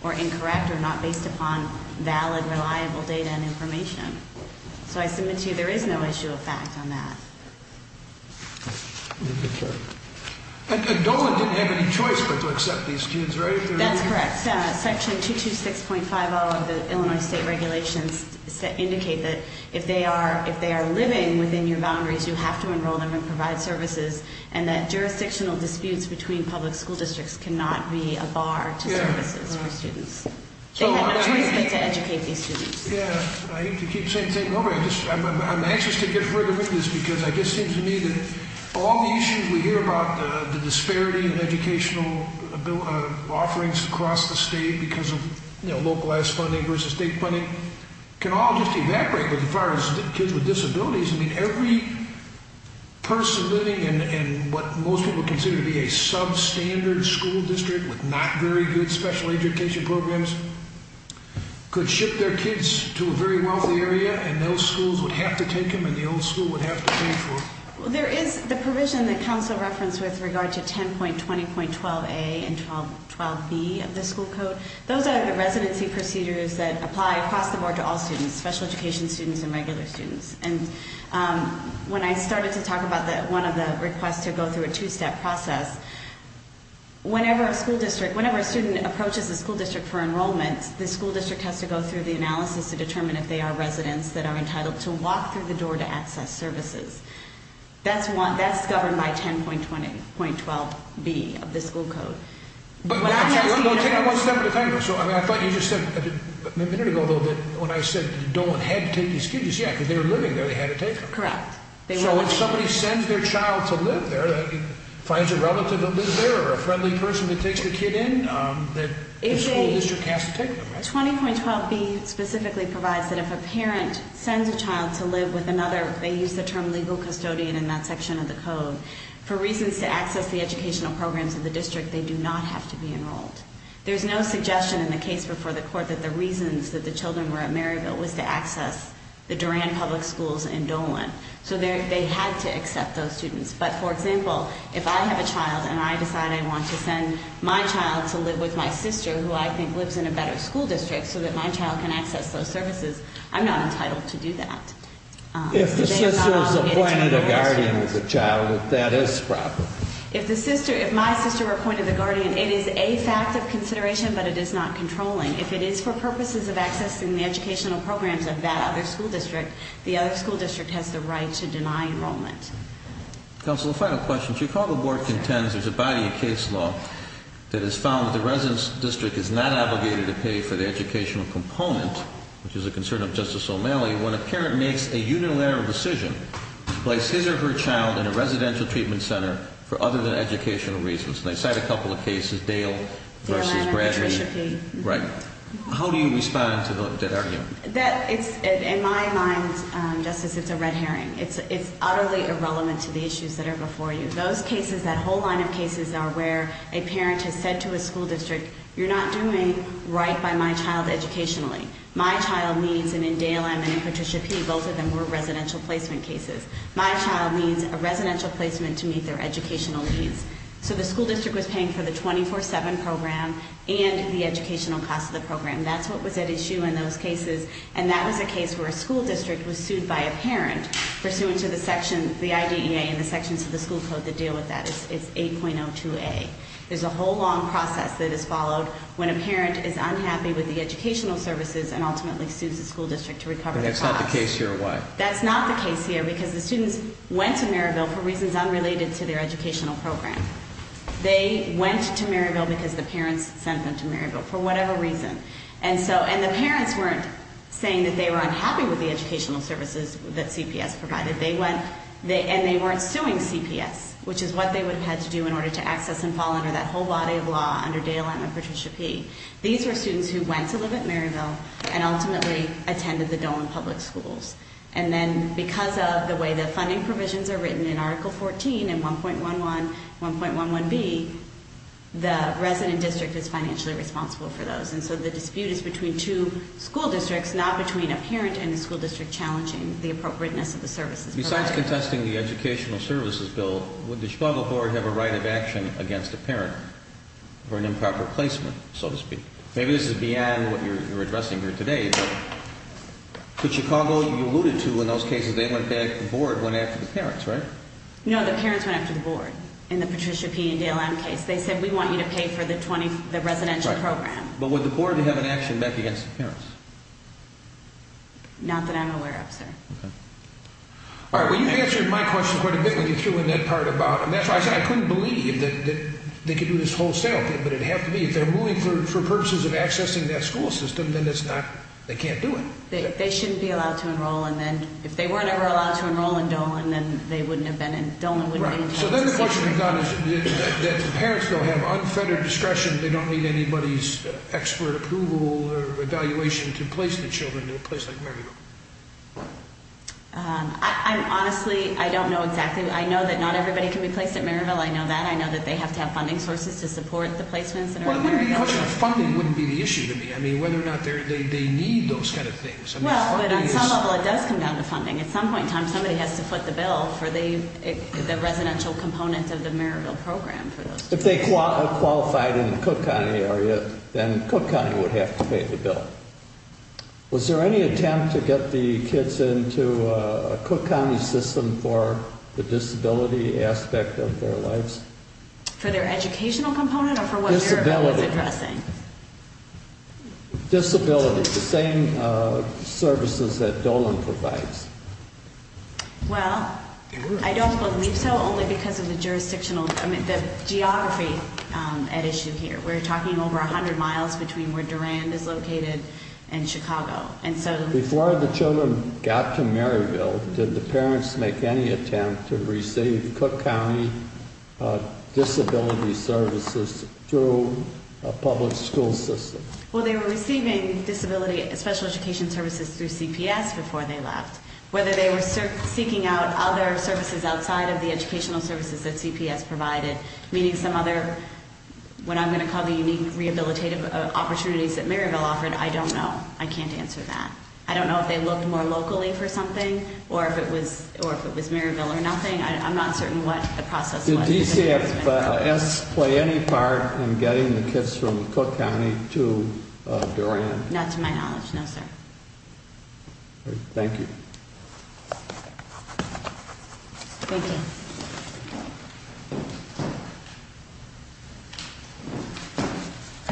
or incorrect or not based upon valid, reliable data and information. So I submit to you there is no issue of fact on that. And Dolan didn't have any choice but to accept these students, right? That's correct. Section 226.50 of the Illinois state regulations indicate that if they are living within your boundaries, you have to enroll them and provide services and that jurisdictional disputes between public school districts cannot be a bar to services for students. They had no choice but to educate these students. I aim to keep saying the same thing over. I'm anxious to get further with this because it just seems to me that all the issues we hear about, the disparity in educational offerings across the state because of localized funding versus state funding, can all just evaporate as far as kids with disabilities. I mean, every person living in what most people consider to be a substandard school district with not very good special education programs could ship their kids to a very wealthy area and those schools would have to take them and the old school would have to pay for them. There is the provision that council referenced with regard to 10.20.12a and 12.12b of the school code. Those are the residency procedures that apply across the board to all students, special education students and regular students. And when I started to talk about one of the requests to go through a two-step process, whenever a student approaches a school district for enrollment, the school district has to go through the analysis to determine if they are residents that are entitled to walk through the door to access services. That's governed by 10.20.12b of the school code. But that's just one step at a time. So I thought you just said a minute ago, though, that when I said that Dolan had to take these kids, you said, yeah, because they were living there, they had to take them. Correct. So if somebody sends their child to live there, finds a relative that lives there or a friendly person that takes the kid in, the school district has to take them, right? 10.20.12b specifically provides that if a parent sends a child to live with another, they use the term legal custodian in that section of the code, for reasons to access the educational programs of the district, they do not have to be enrolled. There's no suggestion in the case before the court that the reasons that the children were at Maryville was to access the Duran public schools in Dolan. So they had to accept those students. But, for example, if I have a child and I decide I want to send my child to live with my sister, who I think lives in a better school district so that my child can access those services, I'm not entitled to do that. If the sister is appointed a guardian of the child, that is proper. If my sister were appointed a guardian, it is a fact of consideration, but it is not controlling. If it is for purposes of accessing the educational programs of that other school district, the other school district has the right to deny enrollment. Counsel, a final question. Chicago board contends there's a body of case law that has found that the residence district is not obligated to pay for the educational component, which is a concern of Justice O'Malley, when a parent makes a unilateral decision to place his or her child in a residential treatment center for other than educational reasons. And I cite a couple of cases, Dale versus Bradley. Dale and Patricia P. Right. How do you respond to that argument? In my mind, Justice, it's a red herring. It's utterly irrelevant to the issues that are before you. Those cases, that whole line of cases are where a parent has said to a school district, you're not doing right by my child educationally. My child needs, and in Dale and in Patricia P., both of them were residential placement cases. My child needs a residential placement to meet their educational needs. So the school district was paying for the 24-7 program and the educational cost of the program. That's what was at issue in those cases. And that was a case where a school district was sued by a parent pursuant to the section, the IDEA and the sections of the school code that deal with that. It's 8.02A. There's a whole long process that is followed when a parent is unhappy with the educational services and ultimately sues the school district to recover their child. But that's not the case here. Why? That's not the case here because the students went to Maryville for reasons unrelated to their educational program. They went to Maryville because the parents sent them to Maryville for whatever reason. And so, and the parents weren't saying that they were unhappy with the educational services that CPS provided. They went, and they weren't suing CPS, which is what they would have had to do in order to access and fall under that whole body of law under Dale and Patricia P. These were students who went to live at Maryville and ultimately attended the Dolan Public Schools. And then because of the way the funding provisions are written in Article 14 and 1.11, 1.11B, the resident district is financially responsible for those. And so the dispute is between two school districts, not between a parent and the school district challenging the appropriateness of the services provided. Besides contesting the educational services bill, would the struggle board have a right of action against a parent for an improper placement, so to speak? Maybe this is beyond what you're addressing here today. But Chicago, you alluded to in those cases, they went back, the board went after the parents, right? No, the parents went after the board in the Patricia P. and Dale M. case. They said, we want you to pay for the 20, the residential program. But would the board have an action back against the parents? Not that I'm aware of, sir. Okay. All right, well, you answered my question quite a bit when you threw in that part about, and that's why I said I couldn't believe that they could do this wholesale. But it'd have to be, if they're moving for purposes of accessing that school system, then it's not, they can't do it. They shouldn't be allowed to enroll. And then if they were never allowed to enroll in Dolan, then they wouldn't have been in, Dolan wouldn't be in. Right. So then the question we've got is that the parents don't have unfettered discretion. They don't need anybody's expert approval or evaluation to place the children in a place like Maryville. I'm honestly, I don't know exactly. I know that not everybody can be placed at Maryville. I know that. I know that they have to have funding sources to support the placements that are in Maryville. Well, it wouldn't be, the question of funding wouldn't be the issue to me. I mean, whether or not they need those kind of things. Well, but on some level it does come down to funding. At some point in time somebody has to foot the bill for the residential component of the Maryville program for those children. If they qualified in the Cook County area, then Cook County would have to pay the bill. Was there any attempt to get the kids into a Cook County system for the disability aspect of their lives? For their educational component or for what Maryville is addressing? Disability. Disability. The same services that Dolan provides. Well, I don't believe so, only because of the jurisdictional, I mean, the geography at issue here. We're talking over 100 miles between where Durand is located and Chicago. Before the children got to Maryville, did the parents make any attempt to receive Cook County disability services through a public school system? Well, they were receiving disability special education services through CPS before they left. Whether they were seeking out other services outside of the educational services that CPS provided, meaning some other, what I'm going to call the unique rehabilitative opportunities that Maryville offered, I don't know. I can't answer that. I don't know if they looked more locally for something or if it was Maryville or nothing. I'm not certain what the process was. Did DCFS play any part in getting the kids from Cook County to Durand? Not to my knowledge, no sir. Thank you. Thank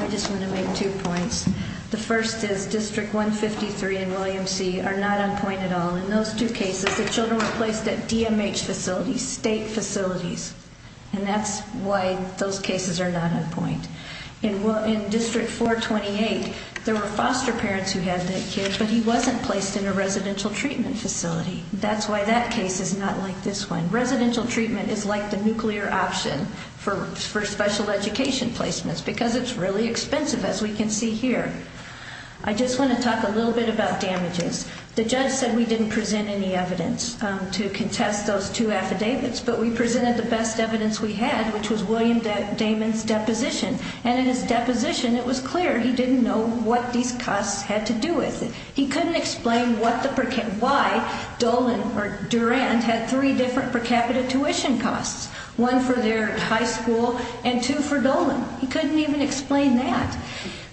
you. I just want to make two points. The first is District 153 and William C are not on point at all. In those two cases, the children were placed at DMH facilities, state facilities. And that's why those cases are not on point. In District 428, there were foster parents who had that kid, but he wasn't placed in a residential treatment facility. That's why that case is not like this one. Residential treatment is like the nuclear option for special education placements because it's really expensive, as we can see here. I just want to talk a little bit about damages. The judge said we didn't present any evidence to contest those two affidavits, but we presented the best evidence we had, which was William Damon's deposition. And in his deposition, it was clear he didn't know what these costs had to do with it. He couldn't explain why Dolan or Durand had three different per capita tuition costs, one for their high school and two for Dolan. He couldn't even explain that.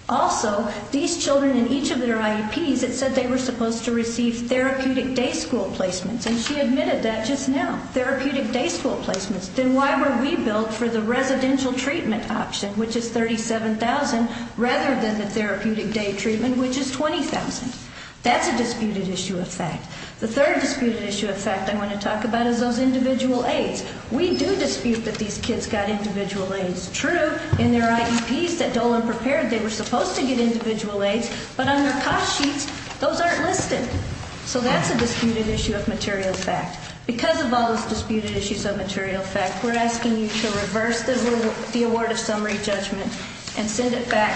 Also, these children in each of their IEPs, it said they were supposed to receive therapeutic day school placements, and she admitted that just now, therapeutic day school placements. Then why were we billed for the residential treatment option, which is $37,000, rather than the therapeutic day treatment, which is $20,000? That's a disputed issue of fact. The third disputed issue of fact I want to talk about is those individual aides. We do dispute that these kids got individual aides. True, in their IEPs that Dolan prepared, they were supposed to get individual aides, but on their cost sheets, those aren't listed. So that's a disputed issue of material fact. Because of all those disputed issues of material fact, we're asking you to reverse the award of summary judgment and send it back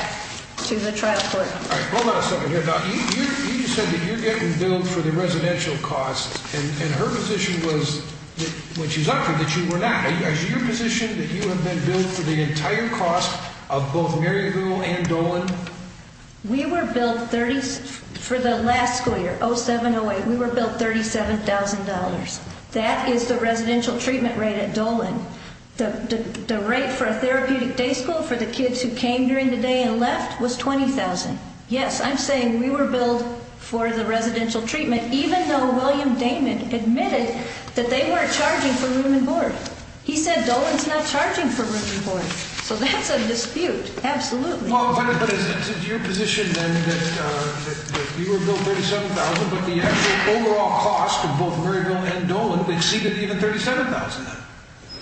to the trial court. All right, hold on a second here. Now, you just said that you're getting billed for the residential costs, and her position was, when she's up here, that you were not. Is it your position that you have been billed for the entire cost of both Mary Lou and Dolan? We were billed for the last school year, 07-08, we were billed $37,000. That is the residential treatment rate at Dolan. The rate for a therapeutic day school for the kids who came during the day and left was $20,000. Yes, I'm saying we were billed for the residential treatment, even though William Damon admitted that they weren't charging for room and board. He said Dolan's not charging for room and board. So that's a dispute, absolutely. Well, but is it your position then that you were billed $37,000, but the actual overall cost of both Mary Lou and Dolan exceeded even $37,000 then?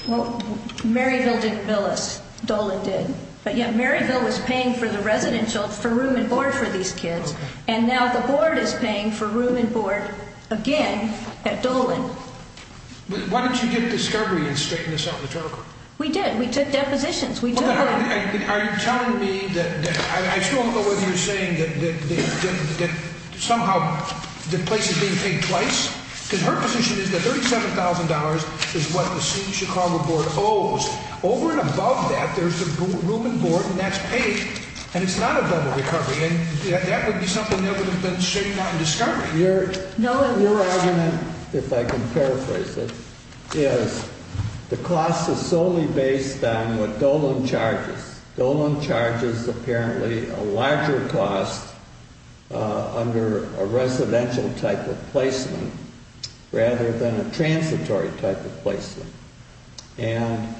Well, Mary Lou didn't bill us. Dolan did. But yeah, Mary Lou was paying for the residential, for room and board for these kids, and now the board is paying for room and board again at Dolan. Why didn't you get discovery and straighten this out in the trial court? We did. We took depositions. We did. Are you telling me that I still don't know whether you're saying that somehow the place is being paid twice? Because her position is that $37,000 is what the Chicago board owes. Over and above that, there's the room and board, and that's paid, and it's not a double recovery. And that would be something that would have been straightened out in discovery. Your argument, if I can paraphrase it, is the cost is solely based on what Dolan charges. Dolan charges apparently a larger cost under a residential type of placement rather than a transitory type of placement. And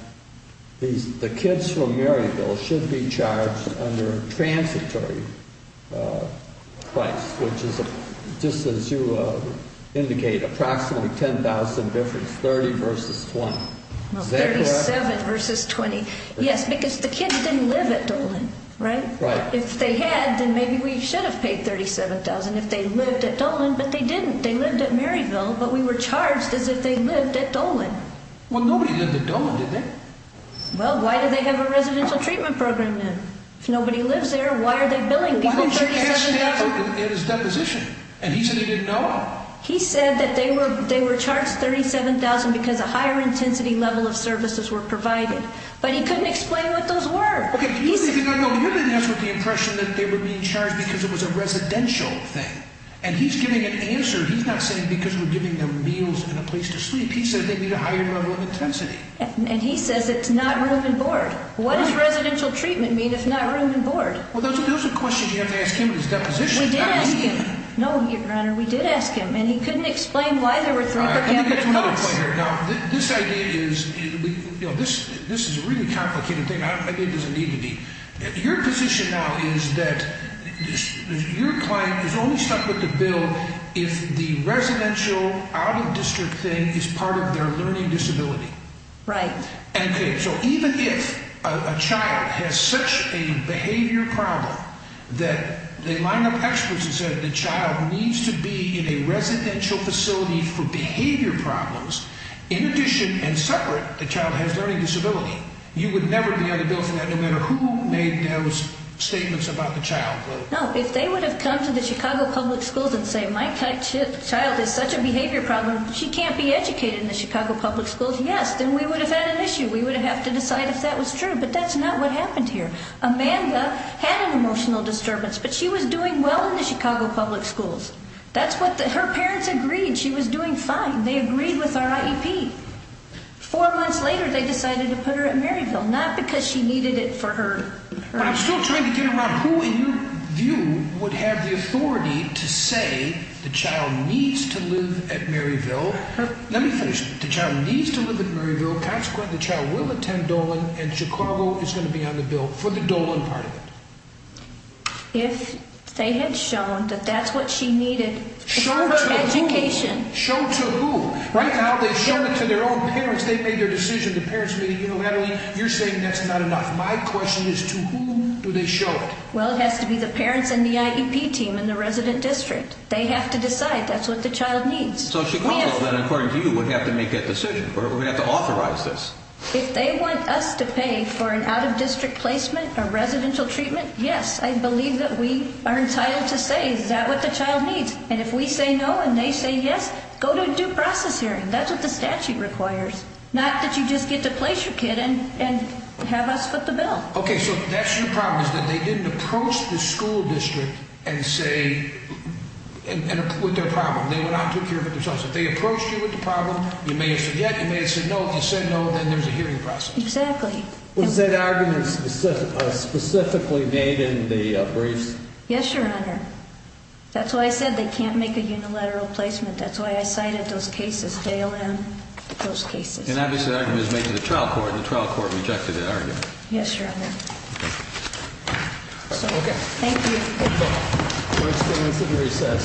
the kids from Maryville should be charged under a transitory price, which is, just as you indicate, approximately $10,000 difference, $30,000 versus $20,000. Is that correct? $37,000 versus $20,000. Yes, because the kids didn't live at Dolan, right? Right. If they had, then maybe we should have paid $37,000 if they lived at Dolan, but they didn't. They lived at Maryville, but we were charged as if they lived at Dolan. Well, nobody lived at Dolan, did they? Well, why do they have a residential treatment program then? If nobody lives there, why are they billing people $37,000? Why don't you ask him at his deposition? And he said he didn't know. He said that they were charged $37,000 because a higher intensity level of services were provided. But he couldn't explain what those were. Okay, you didn't ask what the impression that they were being charged because it was a residential thing. And he's giving an answer. He's not saying because we're giving them meals and a place to sleep. He says they need a higher level of intensity. And he says it's not room and board. What does residential treatment mean if not room and board? Well, those are questions you have to ask him at his deposition. We did ask him. No, Your Honor, we did ask him, and he couldn't explain why there were three per capita costs. All right, let me get to another point here. Now, this idea is, you know, this is a really complicated thing. Maybe it doesn't need to be. Your position now is that your client is only stuck with the bill if the residential out-of-district thing is part of their learning disability. Right. Okay, so even if a child has such a behavior problem that they line up experts and say the child needs to be in a residential facility for behavior problems, in addition and separate, the child has a learning disability, you would never be able to go from that no matter who made those statements about the child. No, if they would have come to the Chicago Public Schools and said my child has such a behavior problem, she can't be educated in the Chicago Public Schools, yes, then we would have had an issue. We would have had to decide if that was true. But that's not what happened here. Amanda had an emotional disturbance, but she was doing well in the Chicago Public Schools. That's what the – her parents agreed she was doing fine. They agreed with our IEP. Four months later, they decided to put her at Maryville, not because she needed it for her – But I'm still trying to get around who, in your view, would have the authority to say the child needs to live at Maryville. Let me finish. The child needs to live at Maryville. Consequently, the child will attend Dolan, and Chicago is going to be on the bill for the Dolan part of it. If they had shown that that's what she needed for her education – Showed to who? Showed to who? Right now, they showed it to their own parents. They made their decision. The parents made it. You know, Natalie, you're saying that's not enough. My question is, to whom do they show it? Well, it has to be the parents and the IEP team in the resident district. They have to decide. That's what the child needs. So Chicago, then, according to you, would have to make that decision. We're going to have to authorize this. If they want us to pay for an out-of-district placement, a residential treatment, yes, I believe that we are entitled to say, is that what the child needs? And if we say no and they say yes, go to a due process hearing. That's what the statute requires. Not that you just get to place your kid and have us foot the bill. Okay, so that's your problem, is that they didn't approach the school district and say – with their problem. They went out and took care of it themselves. If they approached you with the problem, you may have said yes, you may have said no. If you said no, then there's a hearing process. Exactly. Was that argument specifically made in the briefs? Yes, Your Honor. That's why I said they can't make a unilateral placement. That's why I cited those cases. They are in those cases. And obviously the argument was made to the trial court, and the trial court rejected that argument. Yes, Your Honor. Okay. Thank you. Thank you. Court is in recess.